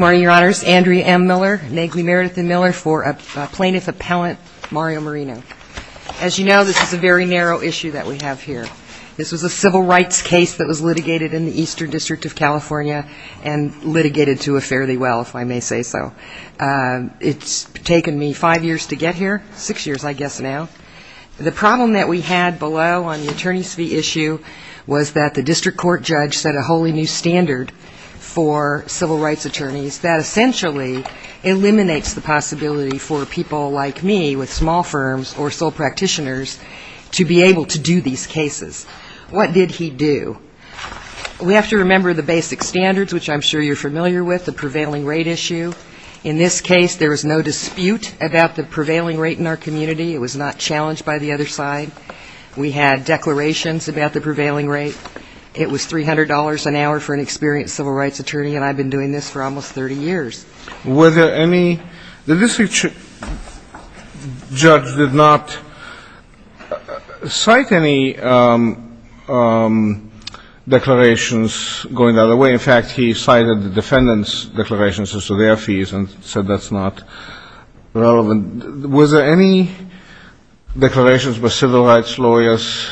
As you know, this is a very narrow issue that we have here. This was a civil rights case that was litigated in the Eastern District of California and litigated to a fairly well, if I may say so. It's taken me five years to get here, six years I guess now. The problem that we had below on the attorneys fee issue was that the district court judge set a wholly new standard for civil rights attorneys that essentially eliminates the possibility for people like me with small firms or sole practitioners to be able to do these cases. What did he do? We have to remember the basic standards, which I'm sure you're familiar with, the prevailing rate issue. In this case, there was no dispute about the prevailing rate in our community. It was not challenged by the other side. We had declarations about the prevailing rate. It was $300 an hour for an experienced civil rights attorney, and I've been doing this for almost 30 years. Were there any – the district judge did not cite any declarations going the other way. In fact, he cited the defendant's declarations as to their fees and said that's not relevant. Was there any declarations by civil rights lawyers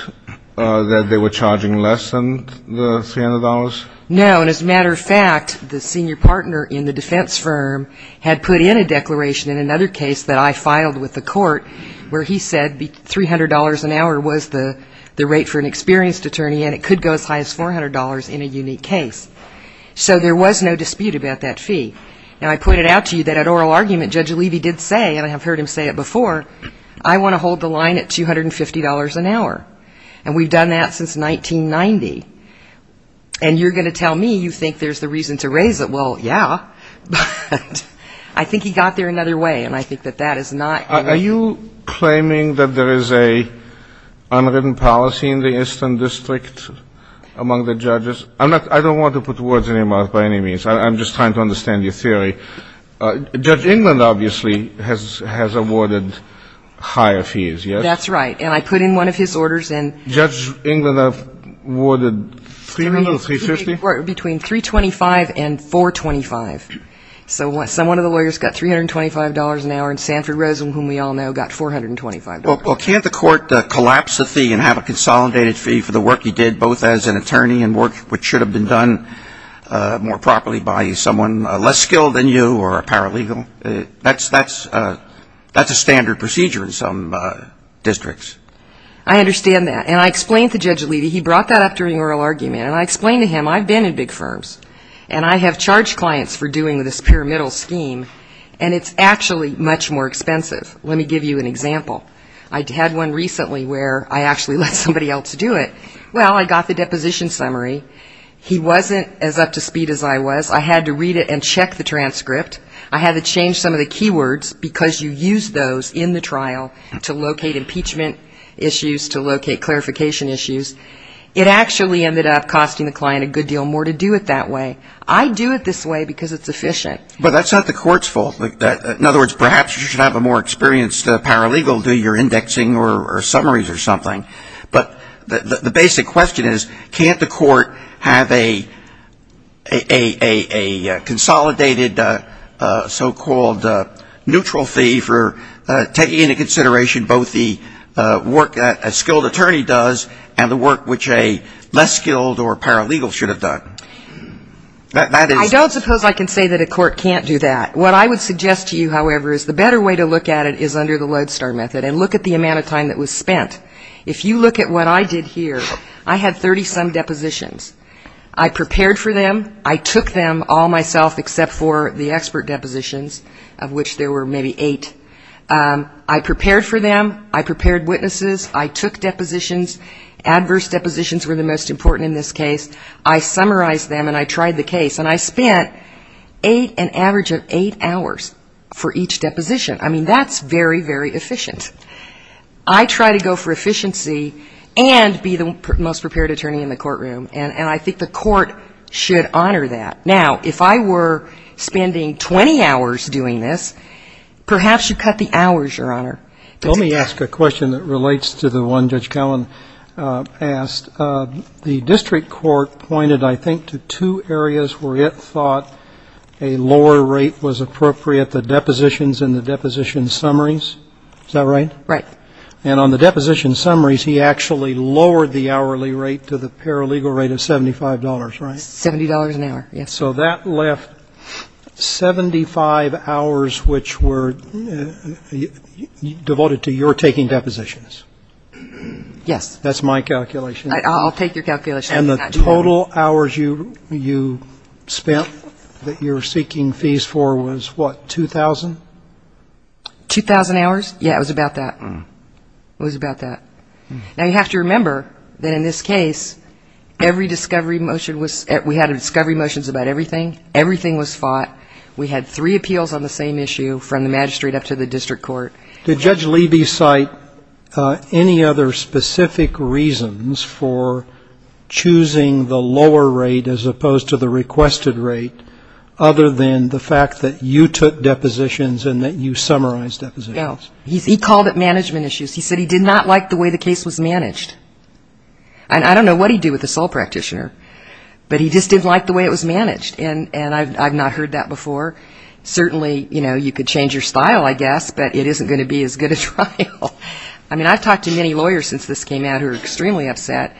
that they were charging less than the $300? No, and as a matter of fact, the senior partner in the defense firm had put in a declaration in another case that I filed with the court where he said $300 an hour was the rate for an experienced attorney, and it could go as high as $400 in a unique case. So there was no dispute about that fee. Now, I pointed out to you that at oral argument, Judge Levy did say, and I have heard him say it before, I want to hold the line at $250 an hour, and we've done that since 1990, and you're going to tell me you think there's a reason to raise it. Well, yeah, but I think he got there another way, and I think that that is not – Are you claiming that there is an unwritten policy in the Eastern District among the judges? I'm not – I don't want to put words in your mouth by any means. I'm just trying to understand your theory. Judge England, obviously, has awarded higher fees, yes? That's right, and I put in one of his orders, and – Judge England awarded $300 or $350? Between $325 and $425. So someone of the lawyers got $325 an hour, and Sanford Rosen, whom we all know, got $425. Well, can't the court collapse the fee and have a consolidated fee for the work he did, both as an attorney and work which should have been done more properly by someone less skilled than you or a paralegal? That's a standard procedure in some districts. I understand that, and I explained to Judge Aliti – he brought that up during oral argument, and I explained to him, I've been in big firms, and I have charged clients for doing this pyramidal scheme, and it's actually much more expensive. Let me give you an example. I had one recently where I actually let somebody else do it. Well, I got the deposition summary. He wasn't as up to speed as I was. I had to read it and check the transcript. I had to change some of the keywords because you use those in the trial to locate impeachment issues, to locate clarification issues. It actually ended up costing the client a good deal more to do it that way. I do it this way because it's efficient. But that's not the court's fault. In other words, perhaps you should have a more experienced paralegal do your indexing or summaries or something. But the basic question is, can't the court have a consolidated so-called neutral fee for taking into consideration both the work that a skilled attorney does and the work which a less skilled or paralegal should have done? I don't suppose I can say that a court can't do that. What I would suggest to you, however, is the better way to look at it is under the Lodestar method and look at the amount of time that was spent. If you look at what I did here, I had 30-some depositions. I prepared for them. I took them all myself except for the expert depositions of which there were maybe eight. I prepared for them. I prepared witnesses. I took depositions. Adverse depositions were the most important in this case. I summarized them and I tried the case. And I spent an average of eight hours for each deposition. I mean, that's very, very efficient. I try to go for efficiency and be the most prepared attorney in the courtroom. And I think the court should honor that. Now, if I were spending 20 hours doing this, perhaps you cut the hours, Your Honor. Let me ask a question that relates to the one Judge Cowan asked. The district court pointed, I think, to two areas where it thought a lower rate was appropriate, the depositions and the deposition summaries. Is that right? Right. And on the deposition summaries, he actually lowered the hourly rate to the paralegal rate of $75, right? $70 an hour, yes. So that left 75 hours which were devoted to your taking depositions. Yes. That's my calculation. I'll take your calculation. And the total hours you spent that you were seeking fees for was, what, 2,000? 2,000 hours? Yeah, it was about that. It was about that. Now, you have to remember that in this case, every discovery motion was we had discovery motions about everything. Everything was fought. We had three appeals on the same issue from the magistrate up to the district court. Did Judge Levy cite any other specific reasons for choosing the lower rate as opposed to the requested rate other than the fact that you took depositions and that you summarized depositions? No. He called it management issues. He said he did not like the way the case was managed. And I don't know what he'd do with a SOLE practitioner, but he just didn't like the way it was managed. And I've not heard that before. Certainly, you know, you could change your style, I guess, but it isn't going to be as good a trial. I mean, I've talked to many lawyers since this came out who are extremely upset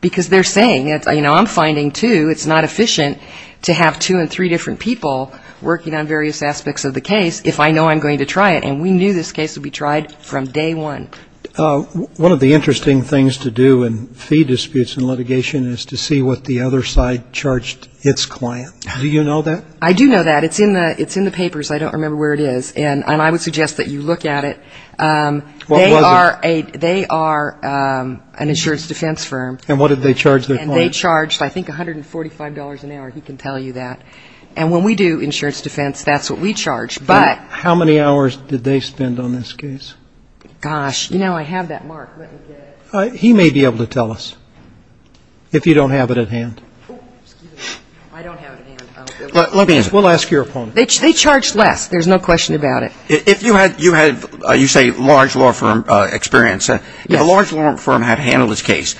because they're saying, you know, I'm finding, too, it's not efficient to have two and three different people working on various aspects of the case if I know I'm going to try it. And we knew this case would be tried from day one. One of the interesting things to do in fee disputes in litigation is to see what the other side charged its client. Do you know that? I do know that. It's in the papers. I don't remember where it is. And I would suggest that you look at it. What was it? They are an insurance defense firm. And what did they charge their client? And they charged, I think, $145 an hour. He can tell you that. And when we do insurance defense, that's what we charge. But ‑‑ How many hours did they spend on this case? Gosh. You know, I have that mark. Let me get it. He may be able to tell us if you don't have it at hand. Let me answer. We'll ask your opponent. They charged less. There's no question about it. If you had, you say, large law firm experience. Yes. A large law firm had handled this case.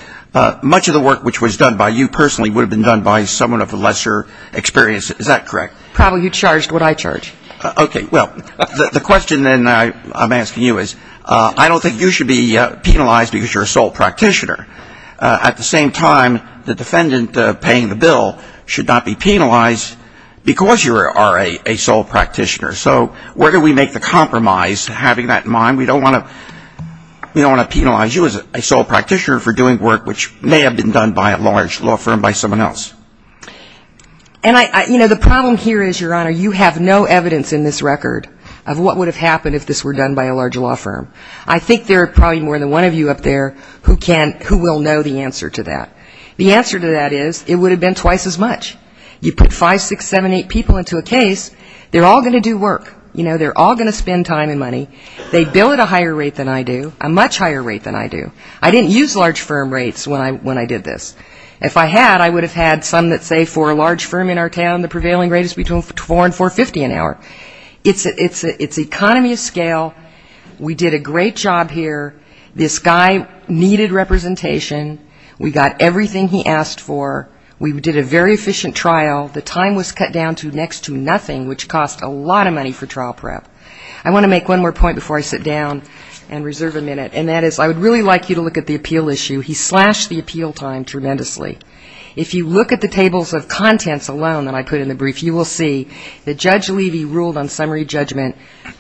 Much of the work which was done by you personally would have been done by someone of lesser experience. Is that correct? Probably you charged what I charge. Okay. Well, the question then I'm asking you is, I don't think you should be penalized because you're a sole practitioner. At the same time, the defendant paying the bill should not be penalized because you are a sole practitioner. So where do we make the compromise having that in mind? We don't want to penalize you as a sole practitioner for doing work which may have been done by a large law firm by someone else. And I ‑‑ you know, the problem here is, Your Honor, you have no evidence in this record of what would have happened if this were done by a large law firm. I think there are probably more than one of you up there who will know the answer to that. The answer to that is it would have been twice as much. You put five, six, seven, eight people into a case, they're all going to do work. You know, they're all going to spend time and money. They bill at a higher rate than I do, a much higher rate than I do. I didn't use large firm rates when I did this. If I had, I would have had some that say for a large firm in our town, the prevailing rate is between 4 and 450 an hour. It's economy of scale. We did a great job here. This guy needed representation. We got everything he asked for. We did a very efficient trial. The time was cut down to next to nothing, which cost a lot of money for trial prep. I want to make one more point before I sit down and reserve a minute, and that is I would really like you to look at the appeal issue. He slashed the appeal time tremendously. If you look at the tables of contents alone that I put in the brief, you will see that Judge Levy ruled on summary judgment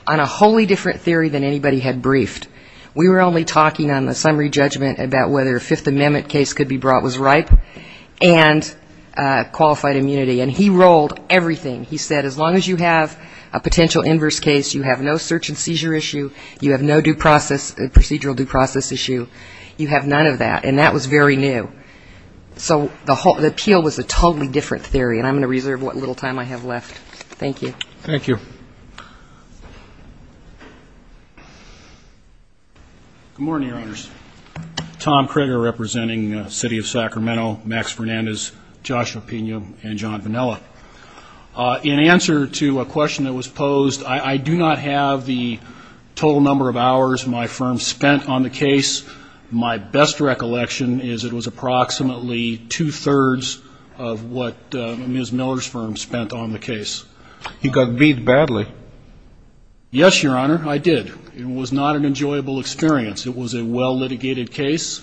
on a wholly different theory than anybody had briefed. We were only talking on the summary judgment about whether a Fifth Amendment case could be brought was ripe and qualified immunity. And he ruled everything. He said as long as you have a potential inverse case, you have no search and seizure issue, you have no procedural due process issue, you have none of that. And that was very new. So the appeal was a very good case. Thank you. Good morning, Your Honors. Tom Kroeger representing the City of Sacramento, Max Fernandez, Joshua Pena, and John Vanilla. In answer to a question that was posed, I do not have the total number of hours my firm spent on the case. My best recollection is it was approximately two-thirds of what Ms. Miller's firm spent on the case. You got beat badly. Yes, Your Honor, I did. It was not an enjoyable experience. It was a well-litigated case.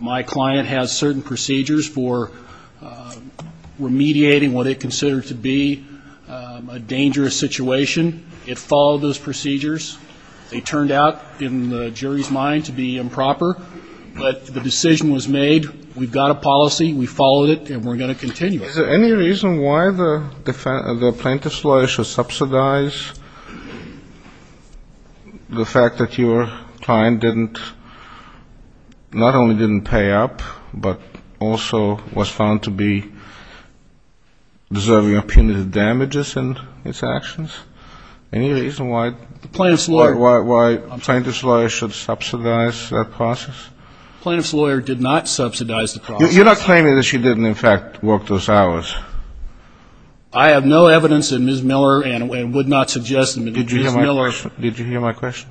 My client has certain procedures for remediating what they consider to be a dangerous situation. It followed those procedures. They turned out in the jury's mind to be improper. But the decision was made. We've got a policy. We followed it. And we're going to continue it. Is there any reason why the plaintiff's lawyer should subsidize the fact that your client didn't, not only didn't pay up, but also was found to be deserving of punitive damages in its actions? Any reason why the plaintiff's lawyer should subsidize that process? The plaintiff's lawyer did not subsidize the process. You're not claiming that she didn't, in fact, work those hours? I have no evidence that Ms. Miller and would not suggest that Ms. Miller ---- Did you hear my question?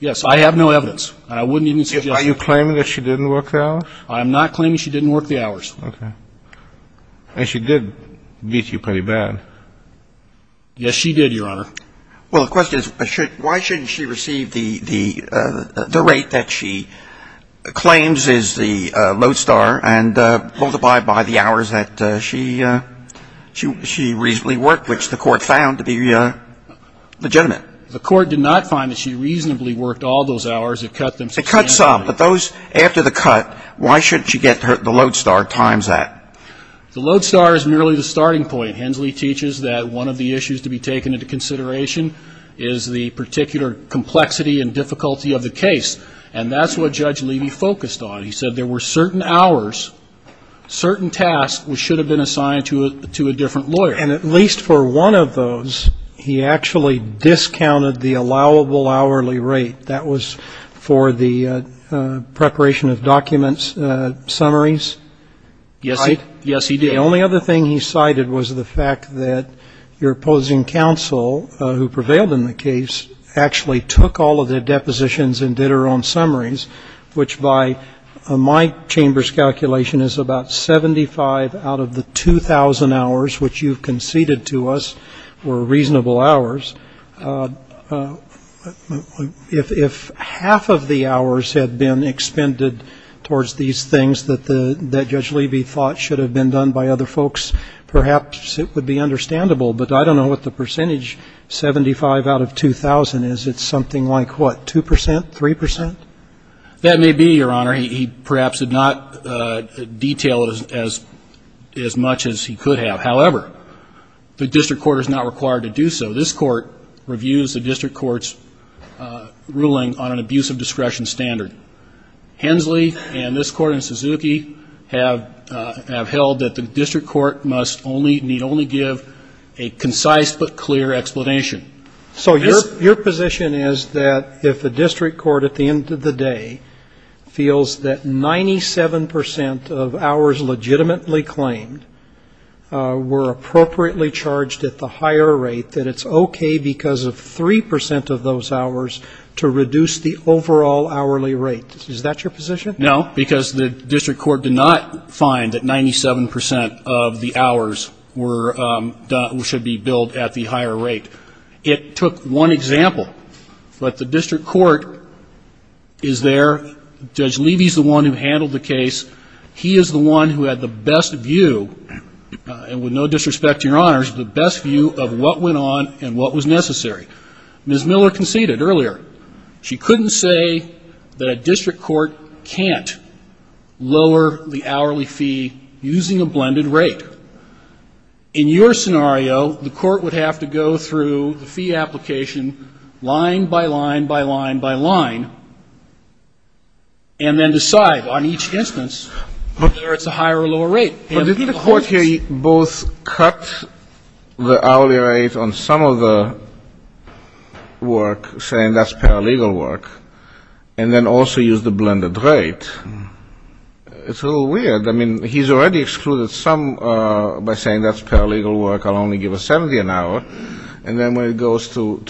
Yes. I have no evidence. I wouldn't even suggest it. Are you claiming that she didn't work the hours? I am not claiming she didn't work the hours. Okay. And she did beat you pretty bad. Yes, she did, Your Honor. Well, the question is, why shouldn't she receive the rate that she claims is the load star and multiply it by the hours that she reasonably worked, which the court found to be legitimate? The court did not find that she reasonably worked all those hours. It cut them substantially. It cut some. But those after the cut, why shouldn't she get the load star times that? The load star is merely the starting point. Hensley teaches that one of the issues to be taken into consideration is the particular complexity and difficulty of the case. And that's what Judge Levy focused on. He said there were certain hours, certain tasks which should have been assigned to a different lawyer. And at least for one of those, he actually discounted the allowable hourly rate. That was for the preparation of documents, summaries? Yes, he did. The only other thing he cited was the fact that your opposing counsel, who prevailed in the case, actually took all of the depositions and did her own summaries, which by my chamber's calculation is about 75 out of the 2,000 hours which you've conceded to us were reasonable hours. If half of the hours had been expended towards these things that Judge Levy thought should have been done by other folks, perhaps it would be understandable. But I don't know what the percentage, 75 out of 2,000, is. It's something like what, 2 percent, 3 percent? That may be, Your Honor. He perhaps did not detail as much as he could have. However, the district court is not required to do so. This Court reviews the district court's ruling on an abuse of discretion standard. Hensley and this Court and Suzuki have held that the district court must only, need only give a concise but clear explanation. So your position is that if the district court, at the end of the day, feels that 97 percent of hours legitimately claimed were appropriately charged at the higher rate, that it's okay because of 3 percent of those hours to reduce the overall hourly rate. Is that your position? No, because the district court did not find that 97 percent of the hours were, should be billed at the higher rate. It took one example. But the district court is there. Judge Levy's the one who handled the case. He is the one who had the best view, and with no disrespect to Your Honors, the best view of what went on and what was necessary. Ms. Miller conceded earlier. She couldn't say that a district court can't lower the hourly fee using a blended rate. In your scenario, the court would have to go through the fee application line by line by line by line and then decide on each instance whether it's a higher or lower rate. But didn't the court here both cut the hourly rate on some of the work, saying that's paralegal work, and then also use the blended rate? It's a little weird. I mean, he's already excluded some by saying that's paralegal work. I'll only give a 70 an hour. And then when it goes to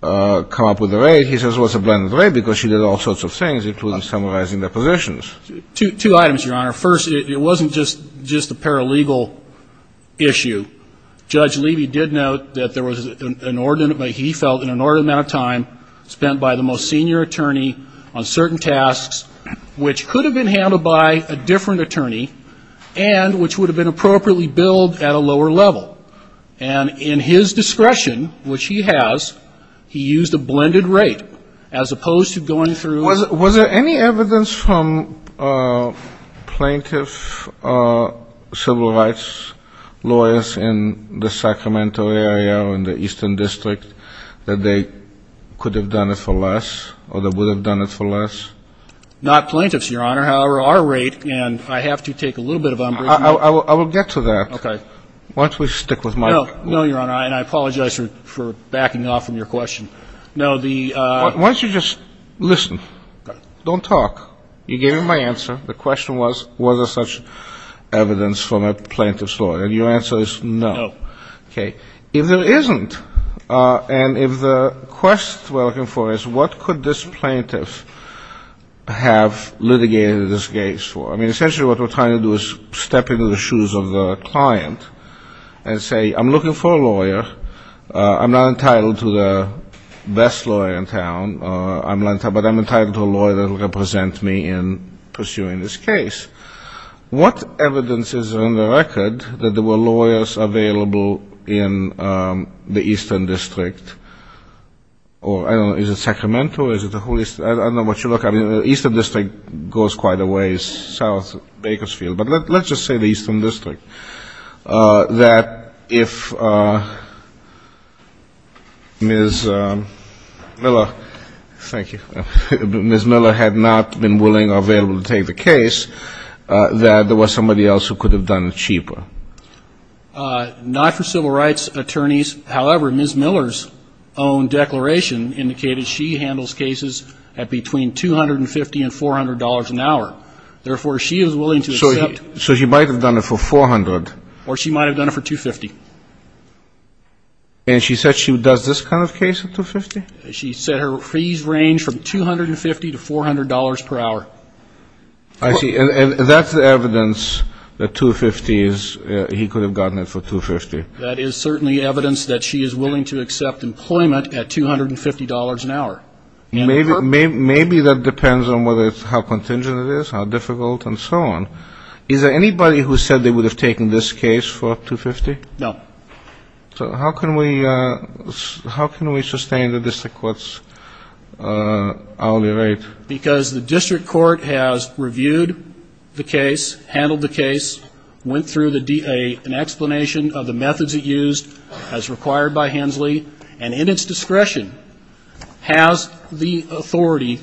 come up with a rate, he says, well, it's a blended rate because she did all sorts of things, including summarizing the positions. Two items, Your Honor. First, it wasn't just a paralegal issue. Judge Levy did note that there was an inordinate, he felt, an inordinate amount of time spent by the most senior attorney on certain tasks, which could have been handled by a different attorney and which would have been appropriately billed at a lower level. And in his discretion, which he has, he used a blended rate as opposed to going through Was there any evidence from plaintiff civil rights lawyers in the Sacramento area or in the Eastern District that they could have done it for less or they would have done it for less? Not plaintiffs, Your Honor. However, our rate, and I have to take a little bit of I will get to that once we stick with my No, Your Honor. And I apologize for backing off from your question. No, the Why don't you just listen? Don't talk. You gave me my answer. The question was, was there such evidence from a plaintiff's lawyer? And your answer is no. No. Okay. If there isn't, and if the question we're looking for is what could this plaintiff have litigated this case for? I mean, essentially what we're trying to do is step into the best lawyer in town, but I'm entitled to a lawyer that will represent me in pursuing this case. What evidence is on the record that there were lawyers available in the Eastern District? Or I don't know, is it Sacramento or is it the whole East? I don't know what you're looking at. The Eastern District goes quite a ways south of Bakersfield. But let's just say the Eastern District. That if Ms. Miller, thank you, Ms. Miller had not been willing or available to take the case, that there was somebody else who could have done it cheaper. Not for civil rights attorneys. However, Ms. Miller's own declaration indicated she handles cases at between $250 and $400 an hour. Therefore, she is willing to accept So she might have done it for $400. Or she might have done it for $250. And she said she does this kind of case at $250? She said her fees range from $250 to $400 per hour. I see. And that's the evidence that $250 is, he could have gotten it for $250. That is certainly evidence that she is willing to accept employment at $250 an hour. Maybe that depends on how contingent it is, how difficult, and so on. Is there anybody who said they would have taken this case for $250? No. So how can we sustain the district court's hourly rate? Because the district court has reviewed the case, handled the case, went through an explanation of the methods it used as required by Hensley, and in its discretion, has the authority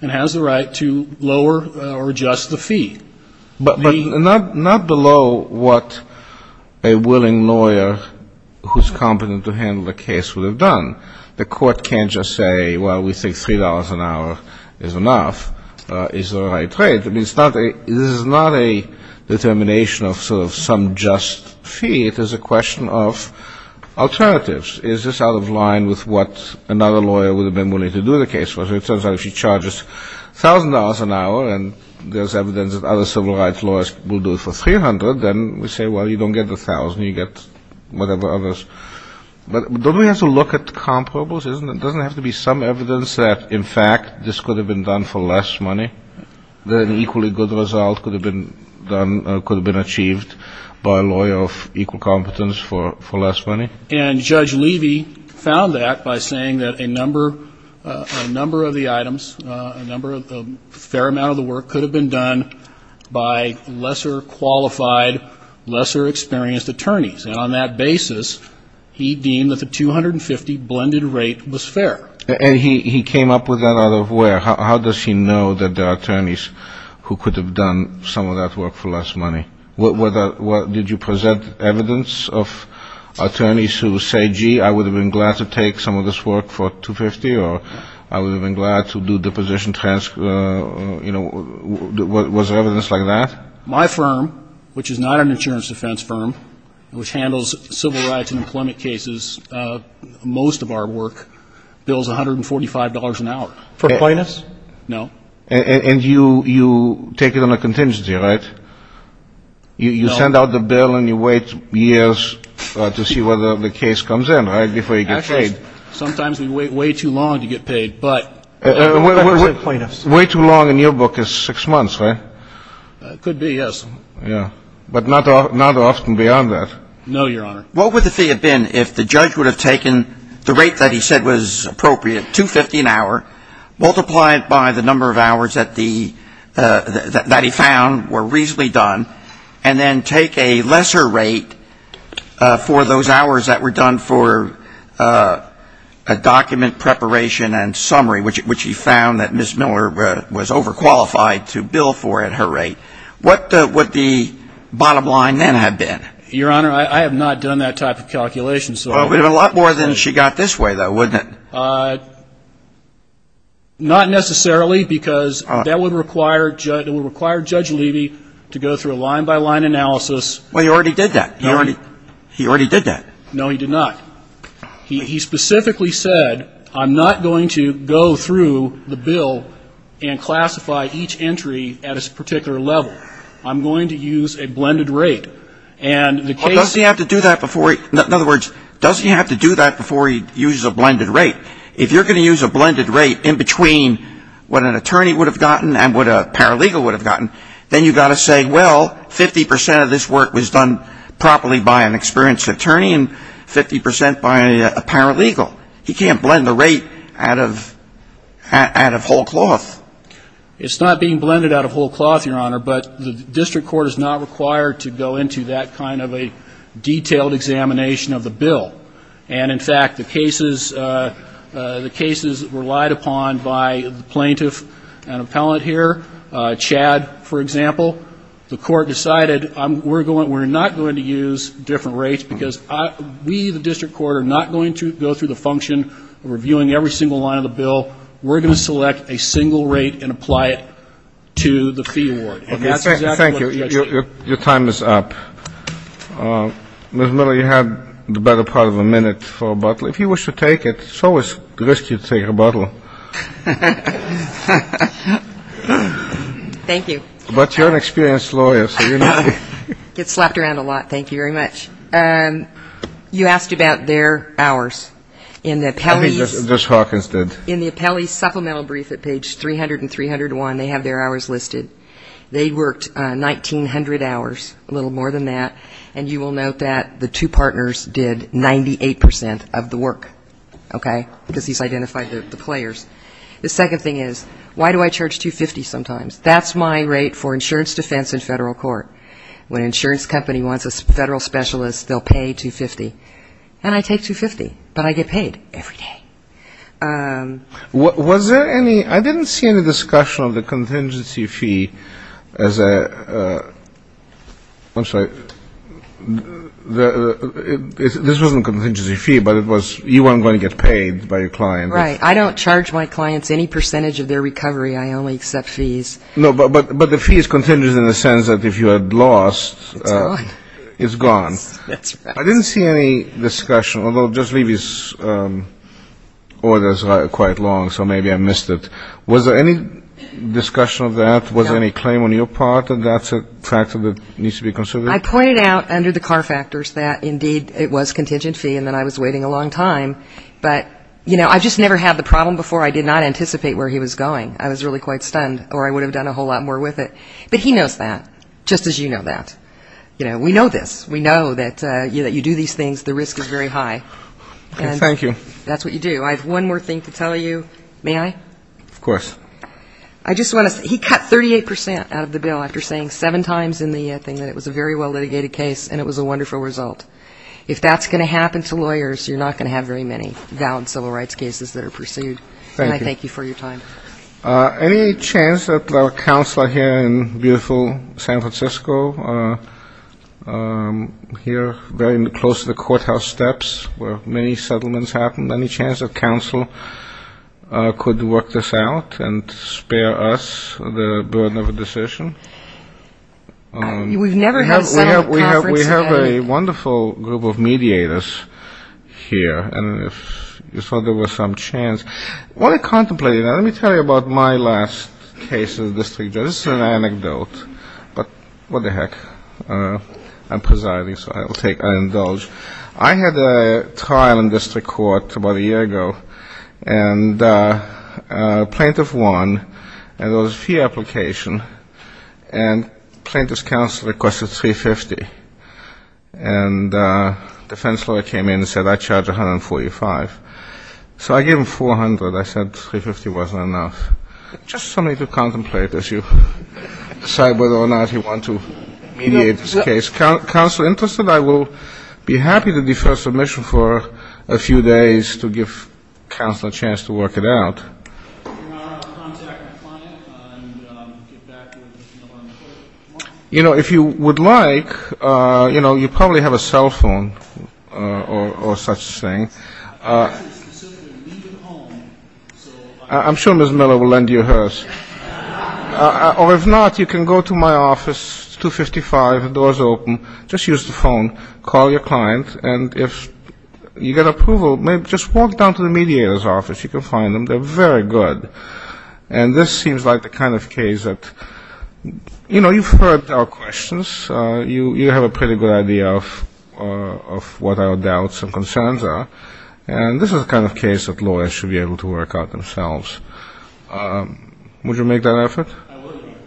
and has the right to lower or adjust the fee. But not below what a willing lawyer who's competent to handle the case would have done. The court can't just say, well, we think $3 an hour is enough, is the right rate. I mean, this is not a determination of sort of some just fee. It is a question of alternatives. Is this out of line with what another lawyer would have been willing to do the case for? It turns out if she charges $1,000 an hour and there's evidence that other civil rights lawyers will do it for $300, then we say, well, you don't get the $1,000, you get whatever others. But don't we have to look at comparables? Doesn't it have to be some evidence that, in fact, this could have been done for less money, that an equally good result could have been done, could have been achieved by a lawyer of equal competence for less money? And Judge Levy found that by saying that a number of the items, a number of, a fair amount of the work could have been done by lesser qualified, lesser experienced attorneys. And on that basis, he deemed that the $250 blended rate was fair. And he came up with that out of where? How does he know that there are attorneys who could have done some of that work for less money? Did you present evidence of attorneys who say, gee, I would have been glad to take some of this work for $250, or I would have been glad to do deposition transfer, you know? Was there evidence like that? My firm, which is not an insurance defense firm, which handles civil rights and employment cases, most of our work bills $145 an hour. For plaintiffs? No. And you take it on a contingency, right? You send out the bill and you wait years to see whether the case comes in, right, before you get paid? Actually, sometimes we wait way too long to get paid, but for plaintiffs. Way too long in your book is six months, right? Could be, yes. But not often beyond that? No, Your Honor. What would the fee have been if the judge would have taken the rate that he said was appropriate, $250 an hour, multiplied by the number of hours that he found were reasonably done, and then take a lesser rate for those hours that were done for a document preparation and summary, which he found that Ms. Miller was overqualified to bill for at her rate? What would the bottom line then have been? Your Honor, I have not done that type of calculation. Well, it would have been a lot more than she got this way, though, wouldn't it? Not necessarily, because that would require Judge Levy to go through a line-by-line analysis. Well, he already did that. He already did that. No, he did not. He specifically said, I'm not going to go through the bill and classify each entry at a particular level. I'm going to use a blended rate. Does he have to do that before he uses a blended rate? If you're going to use a blended rate in between what an attorney would have gotten and what a paralegal would have gotten, then you've got to say, well, 50 percent of this work was done properly by an experienced attorney and 50 percent by a paralegal. He can't blend the rate out of whole cloth. It's not being blended out of whole cloth, Your Honor, but the district court is not required to go into that kind of a detailed examination of the bill. And in fact, the cases relied upon by the plaintiff and appellant here, Chad, for example, the court decided, we're not going to use different rates because we, the district court, are not going to go through the function of reviewing every single line of the bill. We're going to select a single rate and apply it to the fee award. Okay. Thank you. Your time is up. Ms. Miller, you have the better part of a minute for a bottle. If you wish to take it, it's always risky to take a bottle. Thank you. But you're an experienced lawyer, so you know. Get slapped around a lot. Thank you very much. You asked about their hours. In the appellees I think Judge Hawkins did. In the appellee's supplemental brief at page 300 and 301, they have their hours listed. They worked 1,900 hours, a little more than that, and you will note that the two partners did 98 percent of the work, okay, because he's identified the players. The second thing is, why do I charge $250 sometimes? That's my rate for insurance defense in federal court. When an insurance company wants a federal specialist, they'll pay $250. And I take $250, but I get paid every day. Was there any, I didn't see any discussion of the contingency fee as a, I'm sorry, this wasn't a contingency fee, but it was, you weren't going to get paid by your client. Right. I don't charge my clients any percentage of their recovery. I only accept fees. No, but the fee is contingent in the sense that if you had lost, it's gone. It's gone. That's right. I didn't see any discussion, although just leave these orders quite long, so maybe I missed it. Was there any discussion of that? Was there any claim on your part that that's a factor that needs to be considered? I pointed out under the car factors that, indeed, it was contingent fee, and that I was waiting a long time. But, you know, I've just never had the problem before. I did not anticipate where he was going. I was really quite stunned, or I would have done a whole lot more with it. But he knows that, just as you know that. You know, we know this. We know that you do these things, the risk is very high. Thank you. That's what you do. I have one more thing to tell you. May I? Of course. I just want to say, he cut 38 percent out of the bill after saying seven times in the thing that it was a very well-litigated case and it was a wonderful result. If that's going to happen to lawyers, you're not going to have very many valid civil rights cases that are pursued. Thank you. And I thank you for your time. Any chance that our counselor here in beautiful San Francisco, here very close to the courthouse steps where many settlements happened, any chance that counsel could work this out and spare us the burden of a decision? We've never heard Senator Crawford say that. We have a wonderful group of mediators here, and if you thought there was some chance. I want to contemplate it. Let me tell you about my last case as a district judge. This is an anecdote, but what the heck. I'm presiding, so I'll take, I'll indulge. I had a trial in district court about a year ago, and plaintiff won, and there was a fee application, and plaintiff's counsel requested $350, and defense lawyer came in and said, I charge $145. So I gave him $400. I said $350 wasn't enough. Just something to contemplate as you decide whether or not you want to mediate this case. Counselor interested, I will be happy to defer submission for a few days to give counsel a chance to work it out. If you would like, you probably have a cell phone or such thing. I'm sure Ms. Miller will lend you hers. Or if not, you can go to my office, it's 255, the door's open, just use the phone, call your client, and if you get approval, just walk down to the mediator's office. You can find them. They're very good. And this seems like the kind of case that, you know, you've heard our questions, you have a pretty good idea of what our doubts and concerns are, and this is the kind of case that lawyers should be able to work out themselves. Would you make that effort? I will, Your Honor.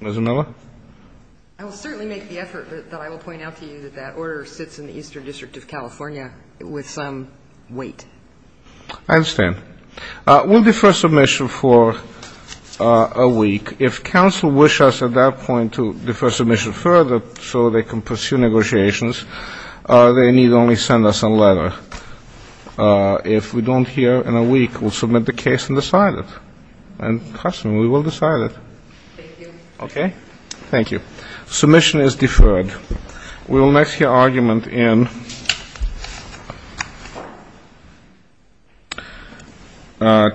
Ms. Miller? I will certainly make the effort, but I will point out to you that that order sits in the Eastern District of California with some weight. I understand. We'll defer submission for a week. If counsel wish us at that point to defer submission further so they can pursue negotiations, they need only send us a letter. If we don't hear in a week, we'll submit the case and decide it. And trust me, we will decide it. Thank you. Okay? Thank you. Submission is deferred. Thank you. We will next hear argument in Chaplain v. Conway.